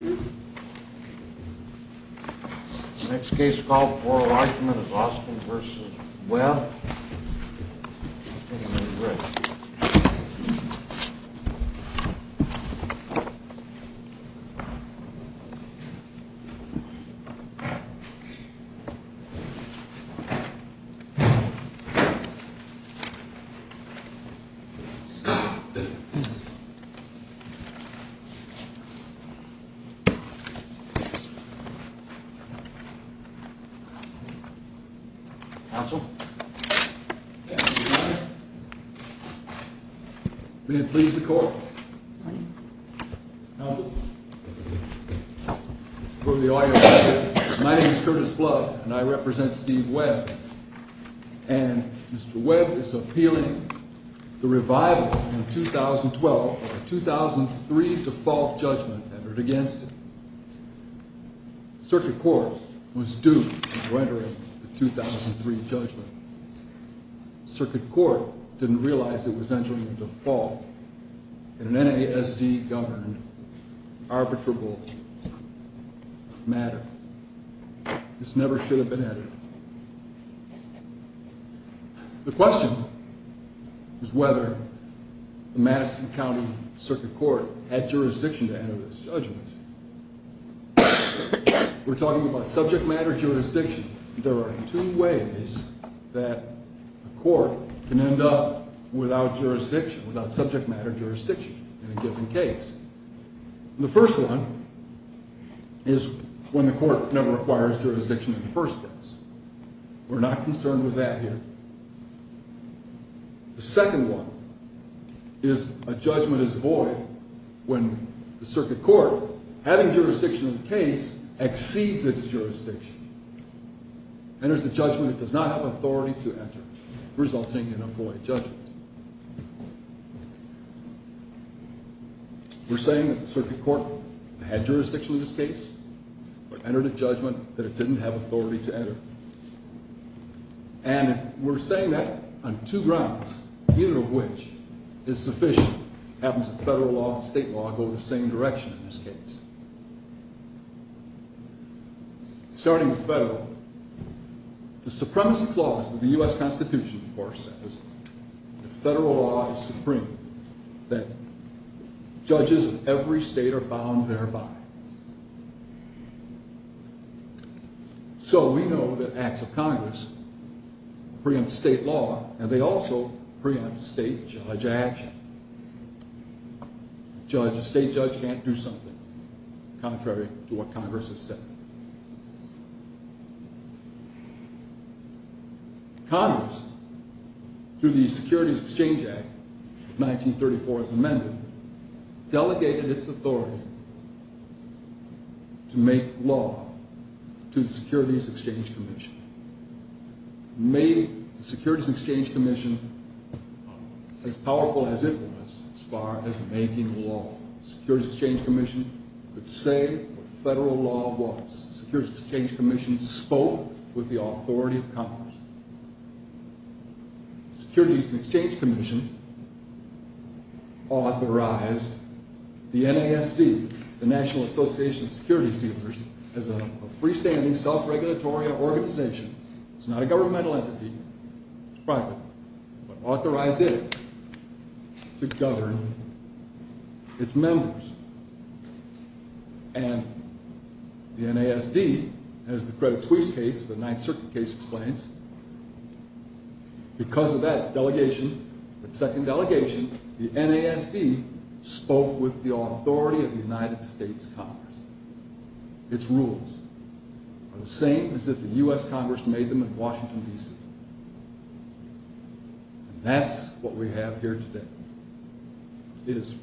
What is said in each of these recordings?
The next case of oral argument is Austin v. Webb. My name is Curtis Flood and I represent Steve Webb and Mr. Webb is appealing the revival in 2012 of a 2003 default judgment entered against it. The circuit court was due to enter a 2003 judgment. The circuit court didn't realize it was entering a default in an NASD government arbitrable matter. This never should have been entered. The question is whether the Madison County Circuit Court had jurisdiction to enter this judgment. We're talking about subject matter jurisdiction. There are two ways that a court can end up without jurisdiction, without subject matter jurisdiction in a given case. The first one is when the court never a judgment is void when the circuit court, having jurisdiction in the case, exceeds its jurisdiction, enters a judgment it does not have authority to enter, resulting in a void judgment. We're saying that the circuit court had jurisdiction in this case but entered a judgment that it didn't have authority to enter. And we're saying that on two grounds, neither of which is sufficient having some federal law and state law go the same direction in this case. Starting with federal, the supremacy clause of the U.S. Constitution, of course, says that federal law is supreme, that judges of every state are bound thereby. So we know that acts of Congress preempt state law and they also preempt state judge action. A state judge can't do something contrary to what Congress has said. Congress, through the Securities Exchange Act of 1934 as amended, delegated its authority to make law to the Securities Exchange Commission, made the Securities Exchange Commission as powerful as it was as far as making law. The Securities Exchange Commission could say what federal law was. The Securities Exchange Commission spoke with the authority of Congress. The Securities Exchange Commission authorized the NASD, the National Association of Securities Dealers, as a freestanding self-regulatory organization. It's not a governmental entity, it's private, but authorized it to govern its members. And the NASD, as the Credit Suisse case, the Ninth Circuit case explains, because of that delegation, that second delegation, the NASD spoke with the authority of the United States Congress. Its rules are the same as if the NASD were a government entity. And that's what we have here today. It is.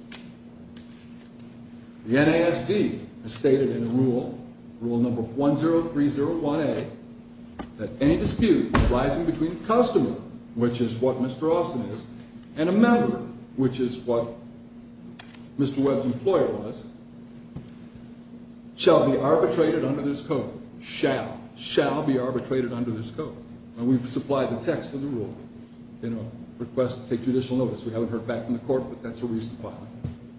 The NASD has stated in the rule, rule number 10301A, that any dispute arising between the customer, which is what Mr. Austin is, and a member, which is what Mr. Webb's employer was, shall be arbitrated under this code. Shall. Shall be arbitrated under this code. And we've supplied the text of the rule in a request to take judicial notice. We haven't heard back from the court, but that's a reason why.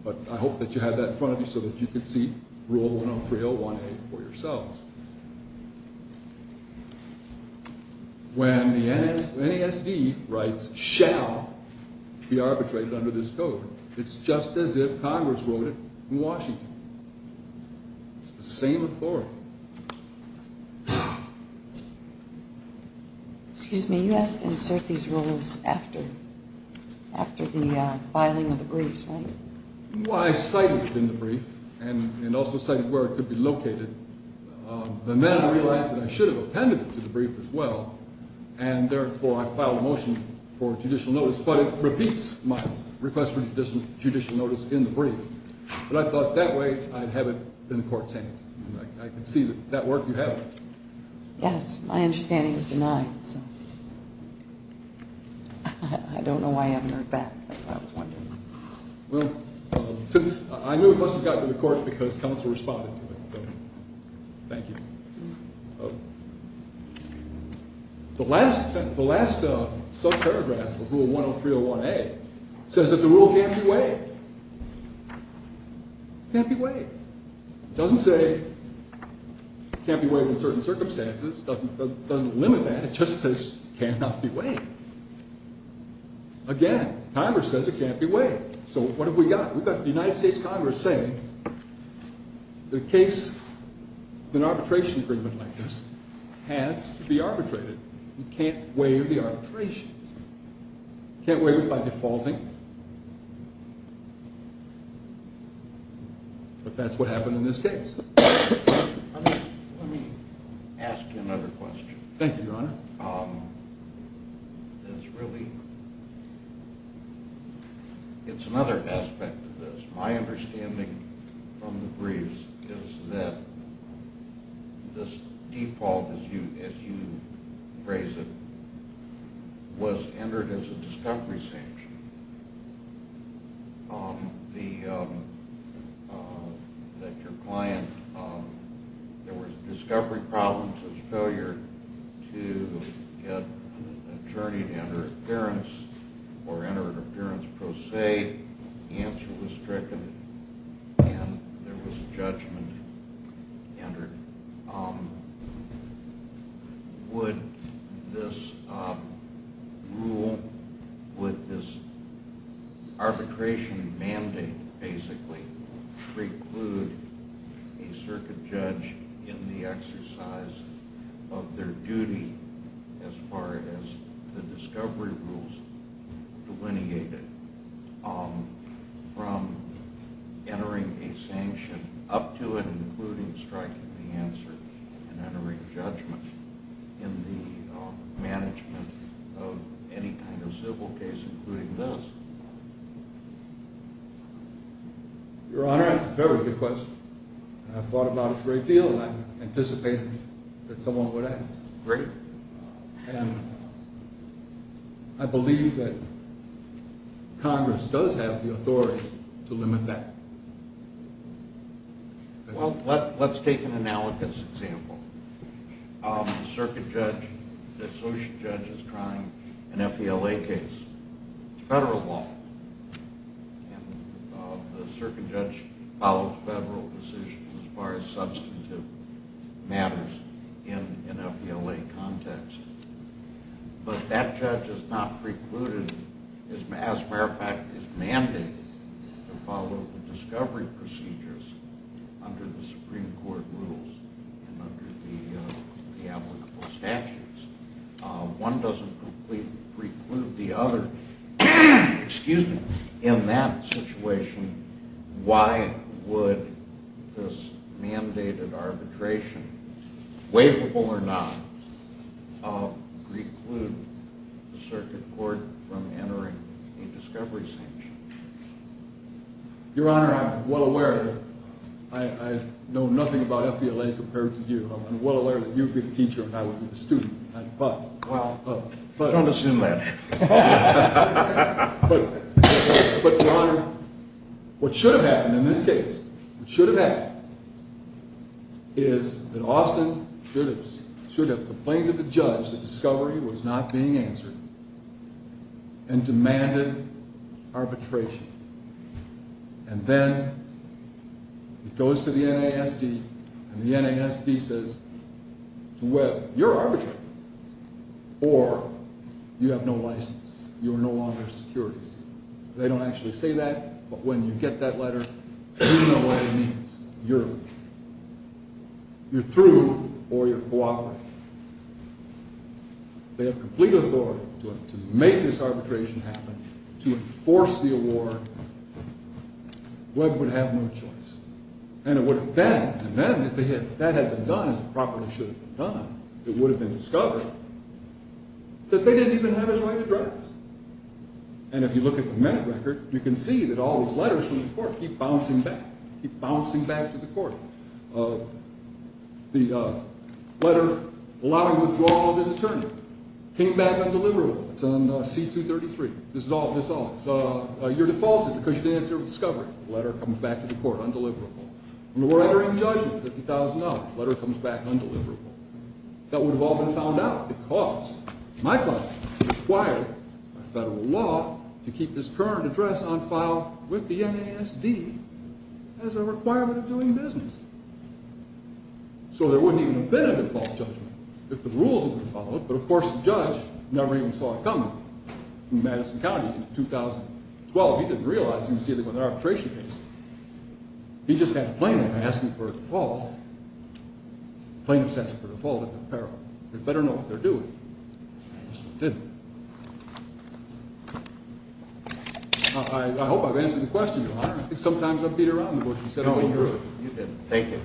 But I hope that you have that in front of you so that you can see rule 10301A for yourselves. When the NASD writes, shall be arbitrated under this code, it's just as if Congress wrote it in Washington. It's the same authority. Excuse me, you asked to insert these rules after the filing of the briefs, right? Well, I cited it in the brief, and also cited where it could be located. But then I realized that I should have appended it to the brief as well, and therefore I filed a motion for judicial notice. But it repeats my motion for judicial notice in the brief. But I thought that way I'd have it in the court tent. I can see that work you have. Yes, my understanding is denied, so. I don't know why I haven't heard back. That's why I was wondering. Well, since I knew it must have got to the court because counsel responded to it, so thank you. The last subparagraph of rule 10301A says that the rule can't be waived. Can't be waived. It doesn't say it can't be waived in certain circumstances. It doesn't limit that. It just says it cannot be waived. Again, Congress says it can't be waived by defaulting. But that's what happened in this case. Let me ask you another question. Thank you, Your Honor. It's really, it's another aspect of this. My understanding from the briefs is that this default, as you phrase it, was entered as a discovery sanction. That your client, there was judgment entered. Would this rule, would this arbitration mandate basically preclude a circuit judge in the exercise of their duty as far as the discovery rules delineated from entering a sanction up to and including striking the answer and entering judgment in the management of any kind of civil case, including this? Your Honor, that's a very good question. I've thought about it a great deal and I'm anticipating that someone would act. I believe that Congress does have the authority to limit that. Well, let's take an analogous example. The circuit judge, the associate judge is trying an FELA case, federal law, and the circuit judge follows federal decisions as far as substantive matters in an FELA context. But that judge has not precluded, as a matter of fact, is mandated to follow the discovery procedures under the Supreme Court rules and under the applicable statutes. One doesn't preclude the other. In that situation, why would this mandated arbitration, waivable or not, preclude the circuit court from entering a discovery sanction? Your Honor, I'm well aware. I know nothing about FELA compared to you. I'm well aware that you've been a teacher and I've been a student. But, Your Honor, what should have happened in this case is that Austin should have complained to the judge that discovery was not being answered and demanded arbitration. And then it goes to the NASD and the NASD says, well, you're arbitrary or you have no choice. They have complete authority to make this arbitration happen, to enforce the award. Webb would have no choice. And then, if that had been done as it properly should have been done, it would have been discovered that they didn't even have his right to drive us. And if you look at the minute record, you can see that all these letters from the court keep bouncing back, keep bouncing back to the court. The letter allowing withdrawal of his attorney came back undeliverable. It's on C-233. This is all. Your default is because you didn't answer discovery. The letter comes back to the court undeliverable. When we're entering judgment, $50,000, the letter comes back undeliverable. That would have all been found out because Michael required by federal law to keep his current address on file with the NASD as a requirement of doing business. So there wouldn't even have been a default judgment if the rules had been followed. But, of course, the judge never even saw it coming in Madison County in 2012. He didn't realize he was dealing with an arbitration case. He just had a plaintiff asking for a default, plaintiff asking for a default at the peril. They better know what they're doing. I hope I've answered the question, Your Honor. I think sometimes I've beat around the bush and said a little truth. No, you didn't. Thank you.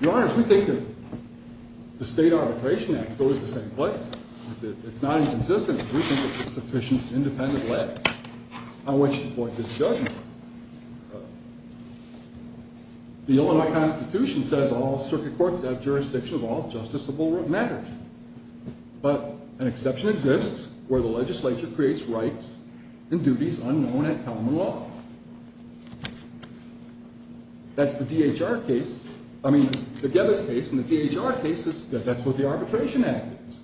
Your Honors, we think that the State Arbitration Act goes to the same place. It's not inconsistent. We think it's sufficient independent leg on which to point to the judgment. The Illinois Constitution says all circuit courts have jurisdiction of all justiciable matters. But an exception exists where the legislature creates rights and duties unknown at common law. That's the D.H.R. case. I mean, the Gevis case and the D.H.R. case is that that's what the Arbitration Act is.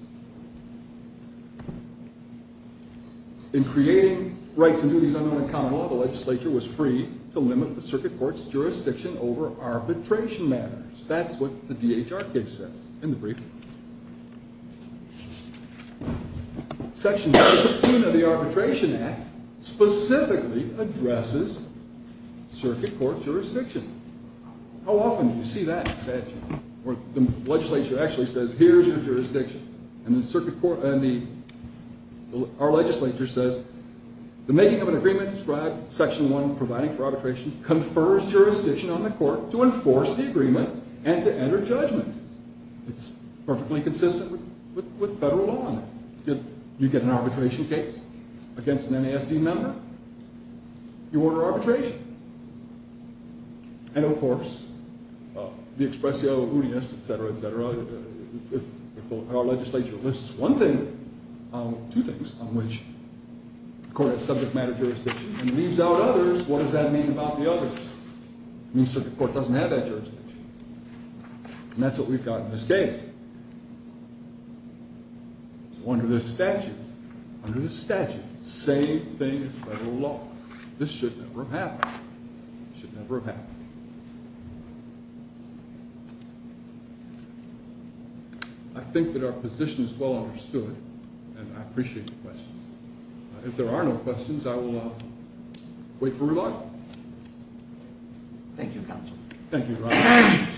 In creating rights and duties unknown at common law, the legislature was free to limit the circuit court's jurisdiction over arbitration matters. That's what the D.H.R. case says. In the brief, Section 16 of the Arbitration Act specifically addresses circuit court jurisdiction. How often do you see that? The legislature actually says, here's your jurisdiction. And our legislature says the making of an agreement described in Section 1 providing for arbitration confers jurisdiction on the court to enforce the agreement and to enter judgment. It's perfectly consistent with federal law. You get an arbitration case against an NASD member, you order arbitration. And of course, the expressio unius, et cetera, et cetera, if our legislature lists one thing, two things on which the court has subject matter jurisdiction and leaves out others, what does that mean about the others? It means that the court doesn't have that jurisdiction. And that's what we've got in this case. So under the statute, under the statute, say things by the law. This should never have happened. It should never have happened. I think that our position is well understood, and I appreciate the questions. If there are no questions, I will wait for rebuttal. Thank you, Counsel. Thank you, Your Honor.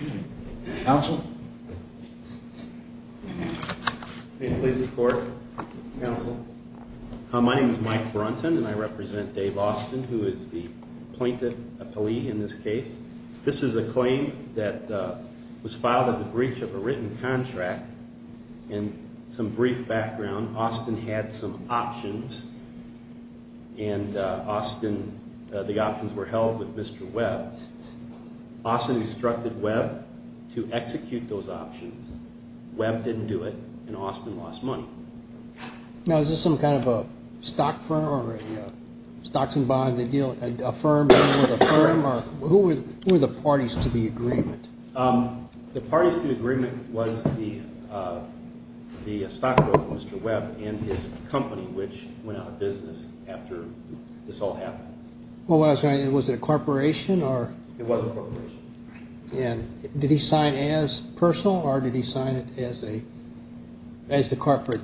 Counsel? May it please the Court, Counsel. My name is Mike Brunton, and I represent Dave Austin, who is the plaintiff, a plea in this case. This is a claim that was filed as a breach of a written contract. And some brief background, Austin had some options, and Austin, the options were held with Mr. Webb. Austin instructed Webb to execute those options. Webb didn't do it, and Austin lost money. Now, is this some kind of a stock firm or stocks and bonds deal, a firm dealing with a firm? Who were the parties to the agreement? The parties to the agreement was the stockbroker, Mr. Webb, and his company, which went out of business after this all happened. Was it a corporation? It was a corporation. Did he sign as personal, or did he sign it as the corporate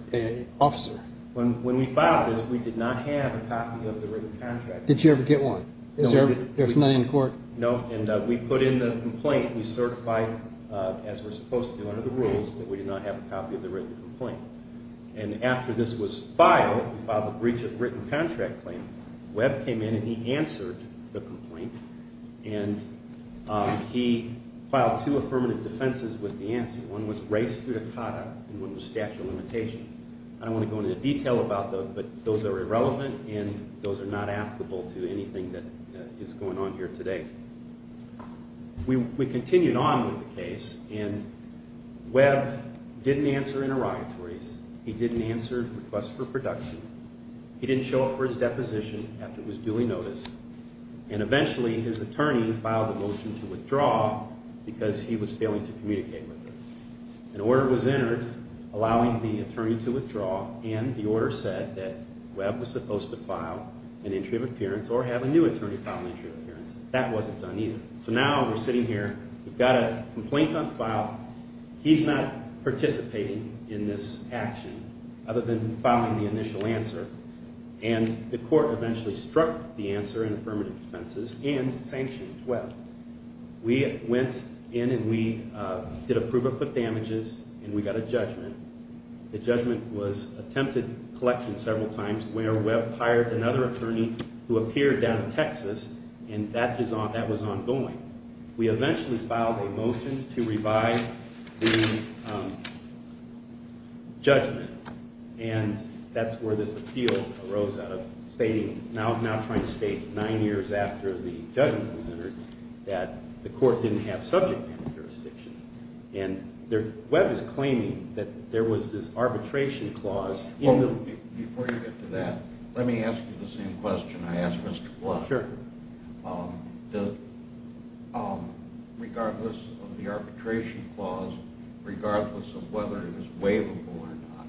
officer? When we filed this, we did not have a copy of the written contract. Did you ever get one? There was none in court? No, and we put in the complaint. We certified, as we're supposed to under the rules, that we did not have a copy of the written complaint. And after this was filed, we filed a breach of written contract claim. Webb came in, and he answered the complaint. And he filed two affirmative defenses with Nancy. One was res judicata, and one was statute of limitations. I don't want to go into detail about those, but those are irrelevant, and those are not applicable to anything that is going on here today. We continued on with the case, and Webb didn't answer interrogatories. He didn't answer requests for production. He didn't show up for his deposition after it was duly noticed. And eventually, his attorney filed a motion to withdraw because he was failing to communicate with her. An order was entered allowing the attorney to withdraw, and the order said that Webb was supposed to file an entry of appearance or have a new attorney file an entry of appearance. That wasn't done either. So now we're sitting here. We've got a complaint on file. He's not participating in this action other than filing the initial answer. And the court eventually struck the answer in affirmative defenses and sanctioned Webb. We went in, and we did a proof of damages, and we got a judgment. The judgment was attempted collection several times where Webb hired another attorney who appeared down in Texas, and that was ongoing. We eventually filed a motion to revive the judgment, and that's where this appeal arose out of stating, now trying to state nine years after the judgment was entered, that the court didn't have subject matter jurisdiction. And Webb is claiming that there was this arbitration clause in the… Before you get to that, let me ask you the same question I asked Mr. Blunt. Sure. Regardless of the arbitration clause, regardless of whether it was waivable or not,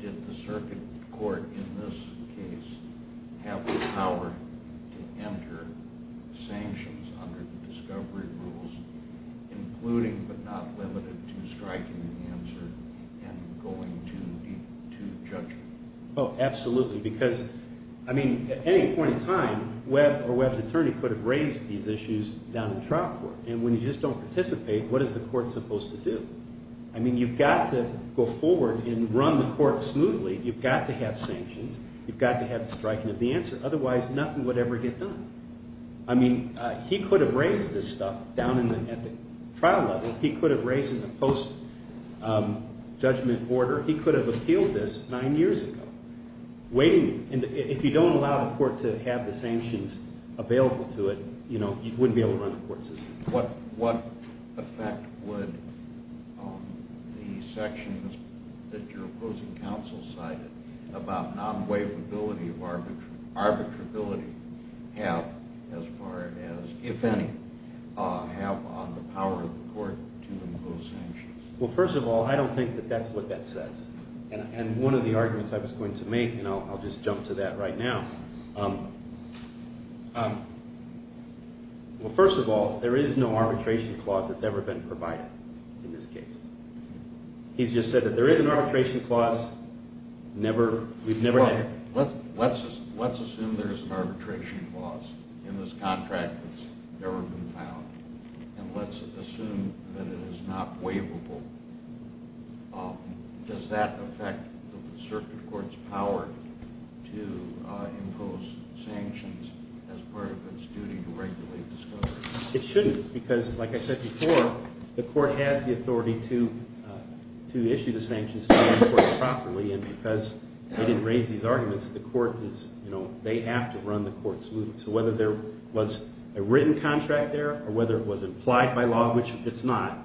did the circuit court in this case have the power to enter sanctions under the discovery rules, including but not limited to striking the answer and going to judgment? Oh, absolutely. Because, I mean, at any point in time, Webb or Webb's attorney could have raised these issues down in the trial court. And when you just don't participate, what is the court supposed to do? I mean, you've got to go forward and run the court smoothly. You've got to have sanctions. You've got to have the striking of the answer. Otherwise, nothing would ever get done. I mean, he could have raised this stuff down at the trial level. He could have raised it in a post-judgment order. He could have appealed this nine years ago. If you don't allow the court to have the sanctions available to it, you know, you wouldn't be able to run a court system. What effect would the sections that your opposing counsel cited about non-waivability of arbitrability have as far as, if any, have on the power of the court to impose sanctions? Well, first of all, I don't think that that's what that says. And one of the arguments I was going to make, and I'll just jump to that right now. Well, first of all, there is no arbitration clause that's ever been provided in this case. He's just said that there is an arbitration clause. We've never had it. Let's assume there is an arbitration clause in this contract that's never been found, and let's assume that it is not waivable. Does that affect the circuit court's power to impose sanctions as part of its duty to regulate the scope? It shouldn't because, like I said before, the court has the authority to issue the sanctions to the court properly. And because they didn't raise these arguments, they have to run the court smoothly. So whether there was a written contract there or whether it was implied by law, which it's not,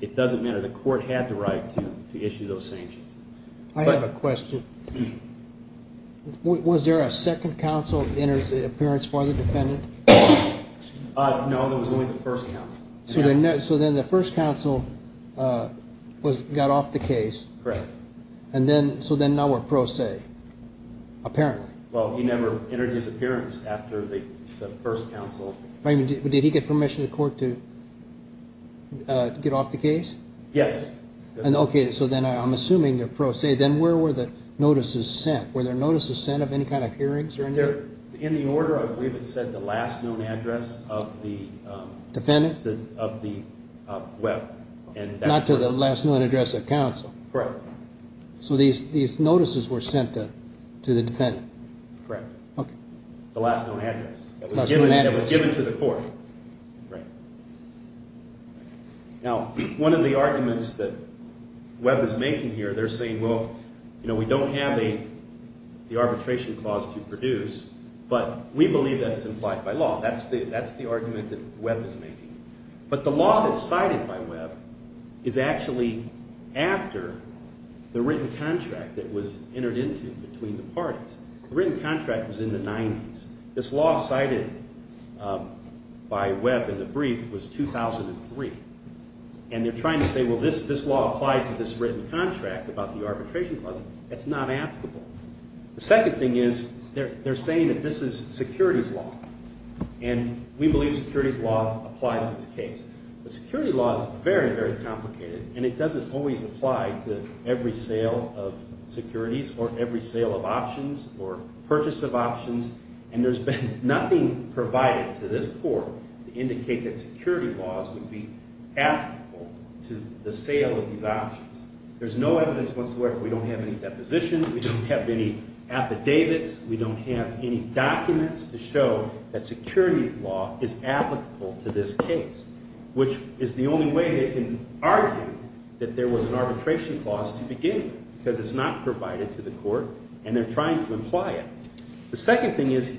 it doesn't matter. The court had the right to issue those sanctions. I have a question. Was there a second counsel appearance for the defendant? No, there was only the first counsel. So then the first counsel got off the case. Correct. So then now we're pro se, apparently. Well, he never entered his appearance after the first counsel. Did he get permission of the court to get off the case? Yes. Okay, so then I'm assuming you're pro se. Then where were the notices sent? Were there notices sent of any kind of hearings or anything? In the order, I believe it said the last known address of the web. Not to the last known address of counsel? Correct. So these notices were sent to the defendant? Correct. The last known address. The last known address. It was given to the court. Right. Now, one of the arguments that Webb is making here, they're saying, well, you know, we don't have the arbitration clause to produce, but we believe that it's implied by law. That's the argument that Webb is making. But the law that's cited by Webb is actually after the written contract that was entered into between the parties. The written contract was in the 90s. This law cited by Webb in the brief was 2003. And they're trying to say, well, this law applied to this written contract about the arbitration clause. That's not applicable. The second thing is they're saying that this is securities law. And we believe securities law applies in this case. But securities law is very, very complicated, and it doesn't always apply to every sale of securities or every sale of options or purchase of options. And there's been nothing provided to this court to indicate that securities laws would be applicable to the sale of these options. There's no evidence whatsoever. We don't have any depositions. We don't have any affidavits. We don't have any documents to show that securities law is applicable to this case, which is the only way they can argue that there was an arbitration clause to begin with, because it's not provided to the court, and they're trying to imply it. The second thing is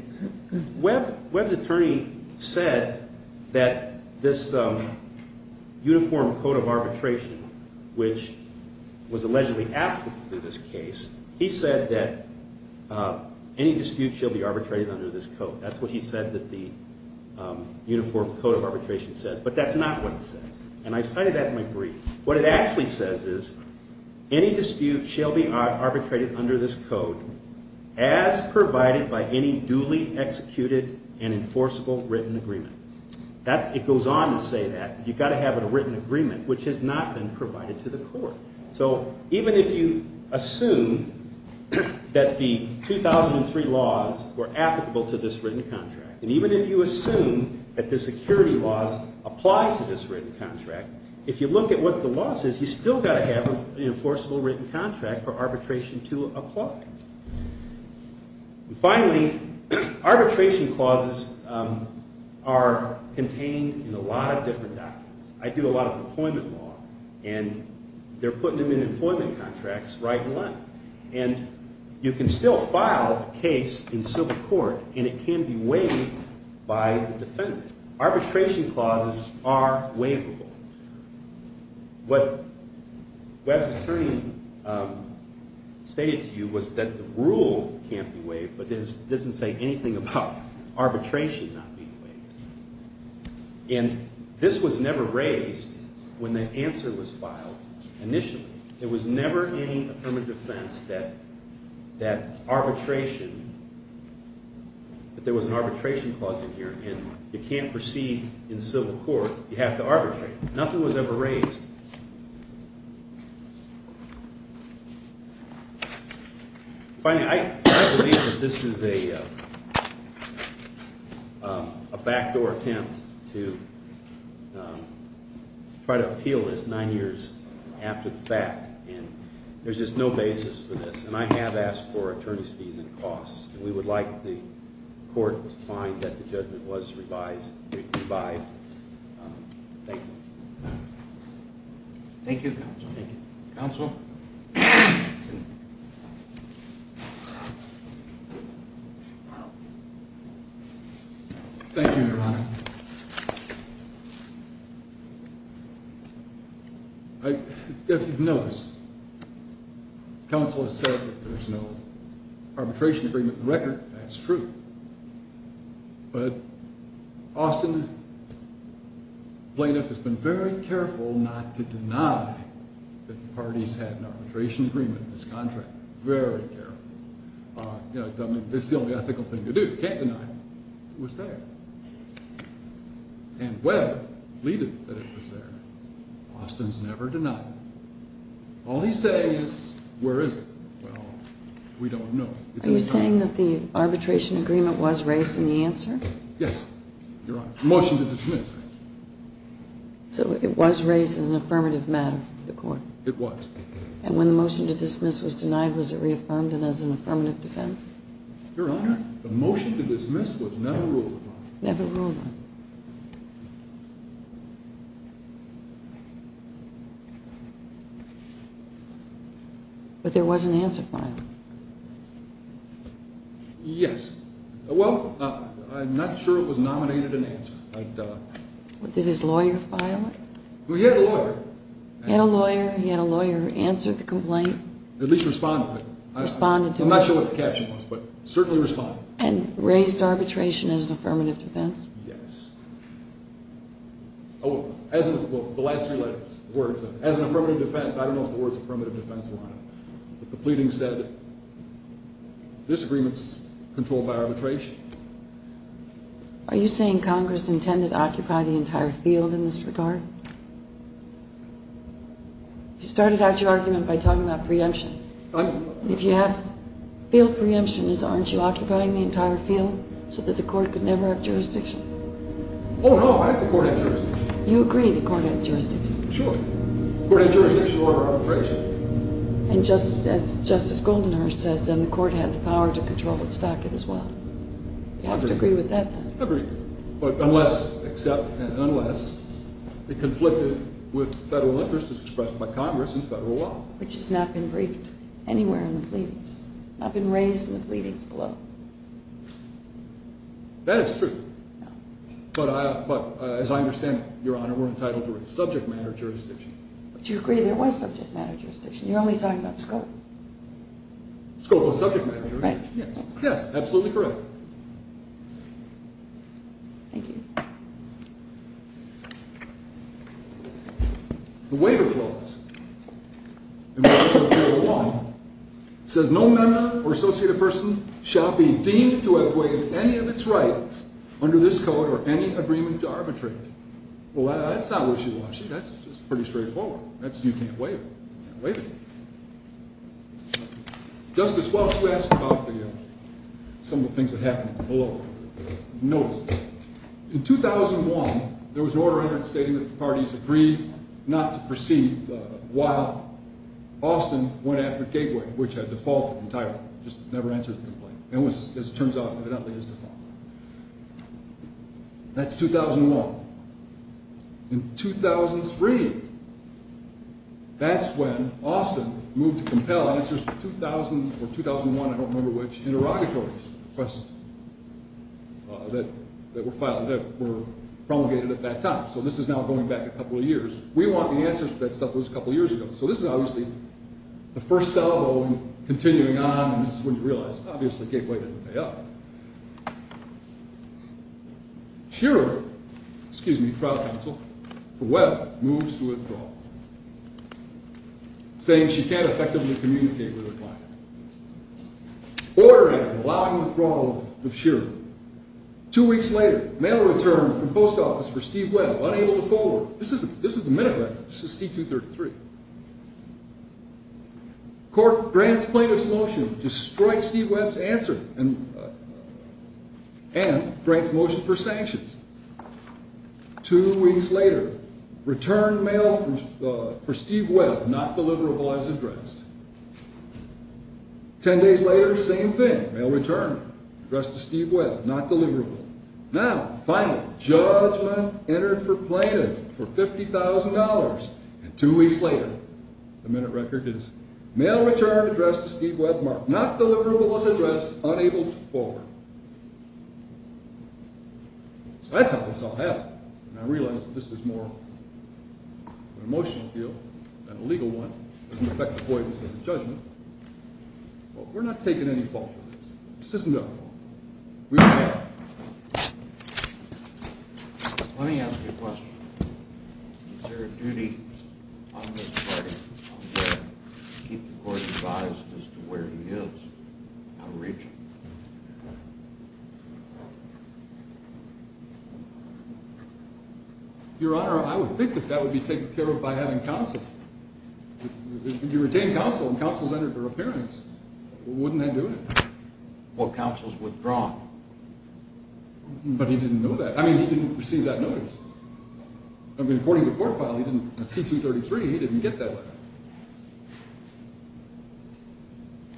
Webb's attorney said that this uniform code of arbitration, which was allegedly applicable to this case, he said that any dispute shall be arbitrated under this code. That's what he said that the uniform code of arbitration says, but that's not what it says. And I cited that in my brief. What it actually says is any dispute shall be arbitrated under this code as provided by any duly executed and enforceable written agreement. It goes on to say that. You've got to have a written agreement, which has not been provided to the court. So even if you assume that the 2003 laws were applicable to this written contract, and even if you assume that the security laws apply to this written contract, if you look at what the law says, you've still got to have an enforceable written contract for arbitration to apply. Finally, arbitration clauses are contained in a lot of different documents. I do a lot of employment law, and they're putting them in employment contracts right and left. And you can still file a case in civil court, and it can be waived by the defendant. Arbitration clauses are waivable. What Webb's attorney stated to you was that the rule can't be waived, but it doesn't say anything about arbitration not being waived. And this was never raised when the answer was filed initially. There was never any affirmative defense that there was an arbitration clause in here, and you can't proceed in civil court. You have to arbitrate. Nothing was ever raised. Finally, I believe that this is a backdoor attempt to try to appeal this nine years after the fact, and there's just no basis for this, and I have asked for attorney's fees and costs, and we would like the court to find that the judgment was revised. Thank you. Thank you, counsel. Thank you, Your Honor. If you've noticed, counsel has said that there's no arbitration agreement in the record. That's true. But Austin plaintiff has been very careful not to deny that the parties had an arbitration agreement in this contract, very careful. You know, it's the only ethical thing to do. You can't deny it. It was there. And Webb believed that it was there. Austin's never denied it. All he's saying is, where is it? Well, we don't know. Are you saying that the arbitration agreement was raised in the answer? Yes, Your Honor. Motion to dismiss. So it was raised as an affirmative matter for the court? It was. And when the motion to dismiss was denied, was it reaffirmed and as an affirmative defense? Your Honor, the motion to dismiss was never ruled upon. Never ruled on. But there was an answer filed. Yes. Well, I'm not sure it was nominated an answer. Did his lawyer file it? He had a lawyer. He had a lawyer. He had a lawyer answer the complaint. At least respond to it. Responded to it. I'm not sure what the caption was, but certainly responded. And raised arbitration as an affirmative defense? Yes. Oh, as in the last three words, as an affirmative defense. I don't know if the words affirmative defense were on it. But the pleading said that this agreement is controlled by arbitration. Are you saying Congress intended to occupy the entire field in this regard? You started out your argument by talking about preemption. If you have field preemption, aren't you occupying the entire field so that the court could never have jurisdiction? Oh, no, I think the court had jurisdiction. You agree the court had jurisdiction. Sure. The court had jurisdiction over arbitration. And just as Justice Goldenhurst says, then, the court had the power to control its docket as well. You have to agree with that, then. I agree. But unless, except unless, it conflicted with federal interest as expressed by Congress in federal law. Which has not been briefed anywhere in the pleadings. Not been raised in the pleadings below. That is true. No. But as I understand it, Your Honor, we're entitled to subject matter jurisdiction. But you agree there was subject matter jurisdiction. You're only talking about scope. Scope was subject matter jurisdiction. Right. Yes, absolutely correct. Thank you. The waiver clause in the federal law says no member or associated person shall be deemed to have waived any of its rights under this code or any agreement to arbitrate. Well, that's not what she wants. That's pretty straightforward. You can't waive it. You can't waive it. Justice Welch, we asked about some of the things that happened below. Notice. In 2001, there was an order entered stating that the parties agreed not to proceed while Austin went after Gateway, which had defaulted entirely. Just never answered the complaint. It was, as it turns out, evidently his default. That's 2001. In 2003, that's when Austin moved to compel answers to 2000 or 2001, I don't remember which, interrogatories that were promulgated at that time. So this is now going back a couple of years. We want the answers to that stuff that was a couple of years ago. So this is obviously the first salvo and continuing on, and this is when you realize obviously Gateway didn't pay up. Shearer, excuse me, trial counsel for Webb moves to withdraw, saying she can't effectively communicate with her client. Order entered allowing withdrawal of Shearer. Two weeks later, mail returned from post office for Steve Webb, unable to forward. This is the minute record. This is C233. Court grants plaintiff's motion to strike Steve Webb's answer and grants motion for sanctions. Two weeks later, return mail for Steve Webb, not deliverable, as addressed. Ten days later, same thing, mail returned, addressed to Steve Webb, not deliverable. Now, finally, judgment entered for plaintiff for $50,000. And two weeks later, the minute record is mail returned, addressed to Steve Webb, not deliverable, as addressed, unable to forward. So that's how this all happened. And I realize that this is more an emotional deal than a legal one. It doesn't affect avoidance in the judgment. But we're not taking any fault with this. This isn't our fault. We don't care. Let me ask you a question. Is there a duty on this party, on Webb, to keep the court advised as to where he is, how to reach him? Your Honor, I would think that that would be taken care of by having counsel. If you retain counsel and counsel's entered for appearance, wouldn't that do it? Well, counsel's withdrawn. But he didn't know that. I mean, he didn't receive that notice. I mean, according to the court file, C233, he didn't get that letter.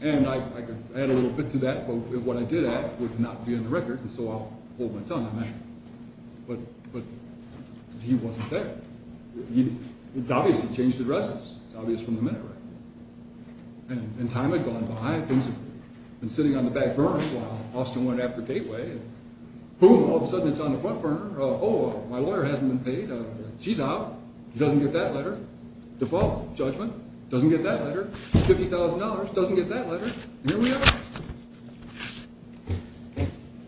And I could add a little bit to that. But what I did add would not be in the record. And so I'll hold my tongue on that. But he wasn't there. It's obvious he changed addresses. It's obvious from the minute record. And time had gone by. Things had been sitting on the back burner while Austin went after Gateway. Boom, all of a sudden, it's on the front burner. Oh, my lawyer hasn't been paid. She's out. He doesn't get that letter. Default judgment. Doesn't get that letter. $50,000. Doesn't get that letter. And here we are.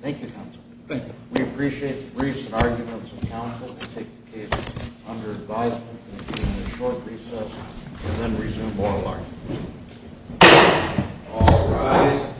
Thank you, counsel. Thank you. We appreciate the briefs and arguments of counsel. We take the case under advisement. We'll be in the short recess and then resume oral arguments. All rise.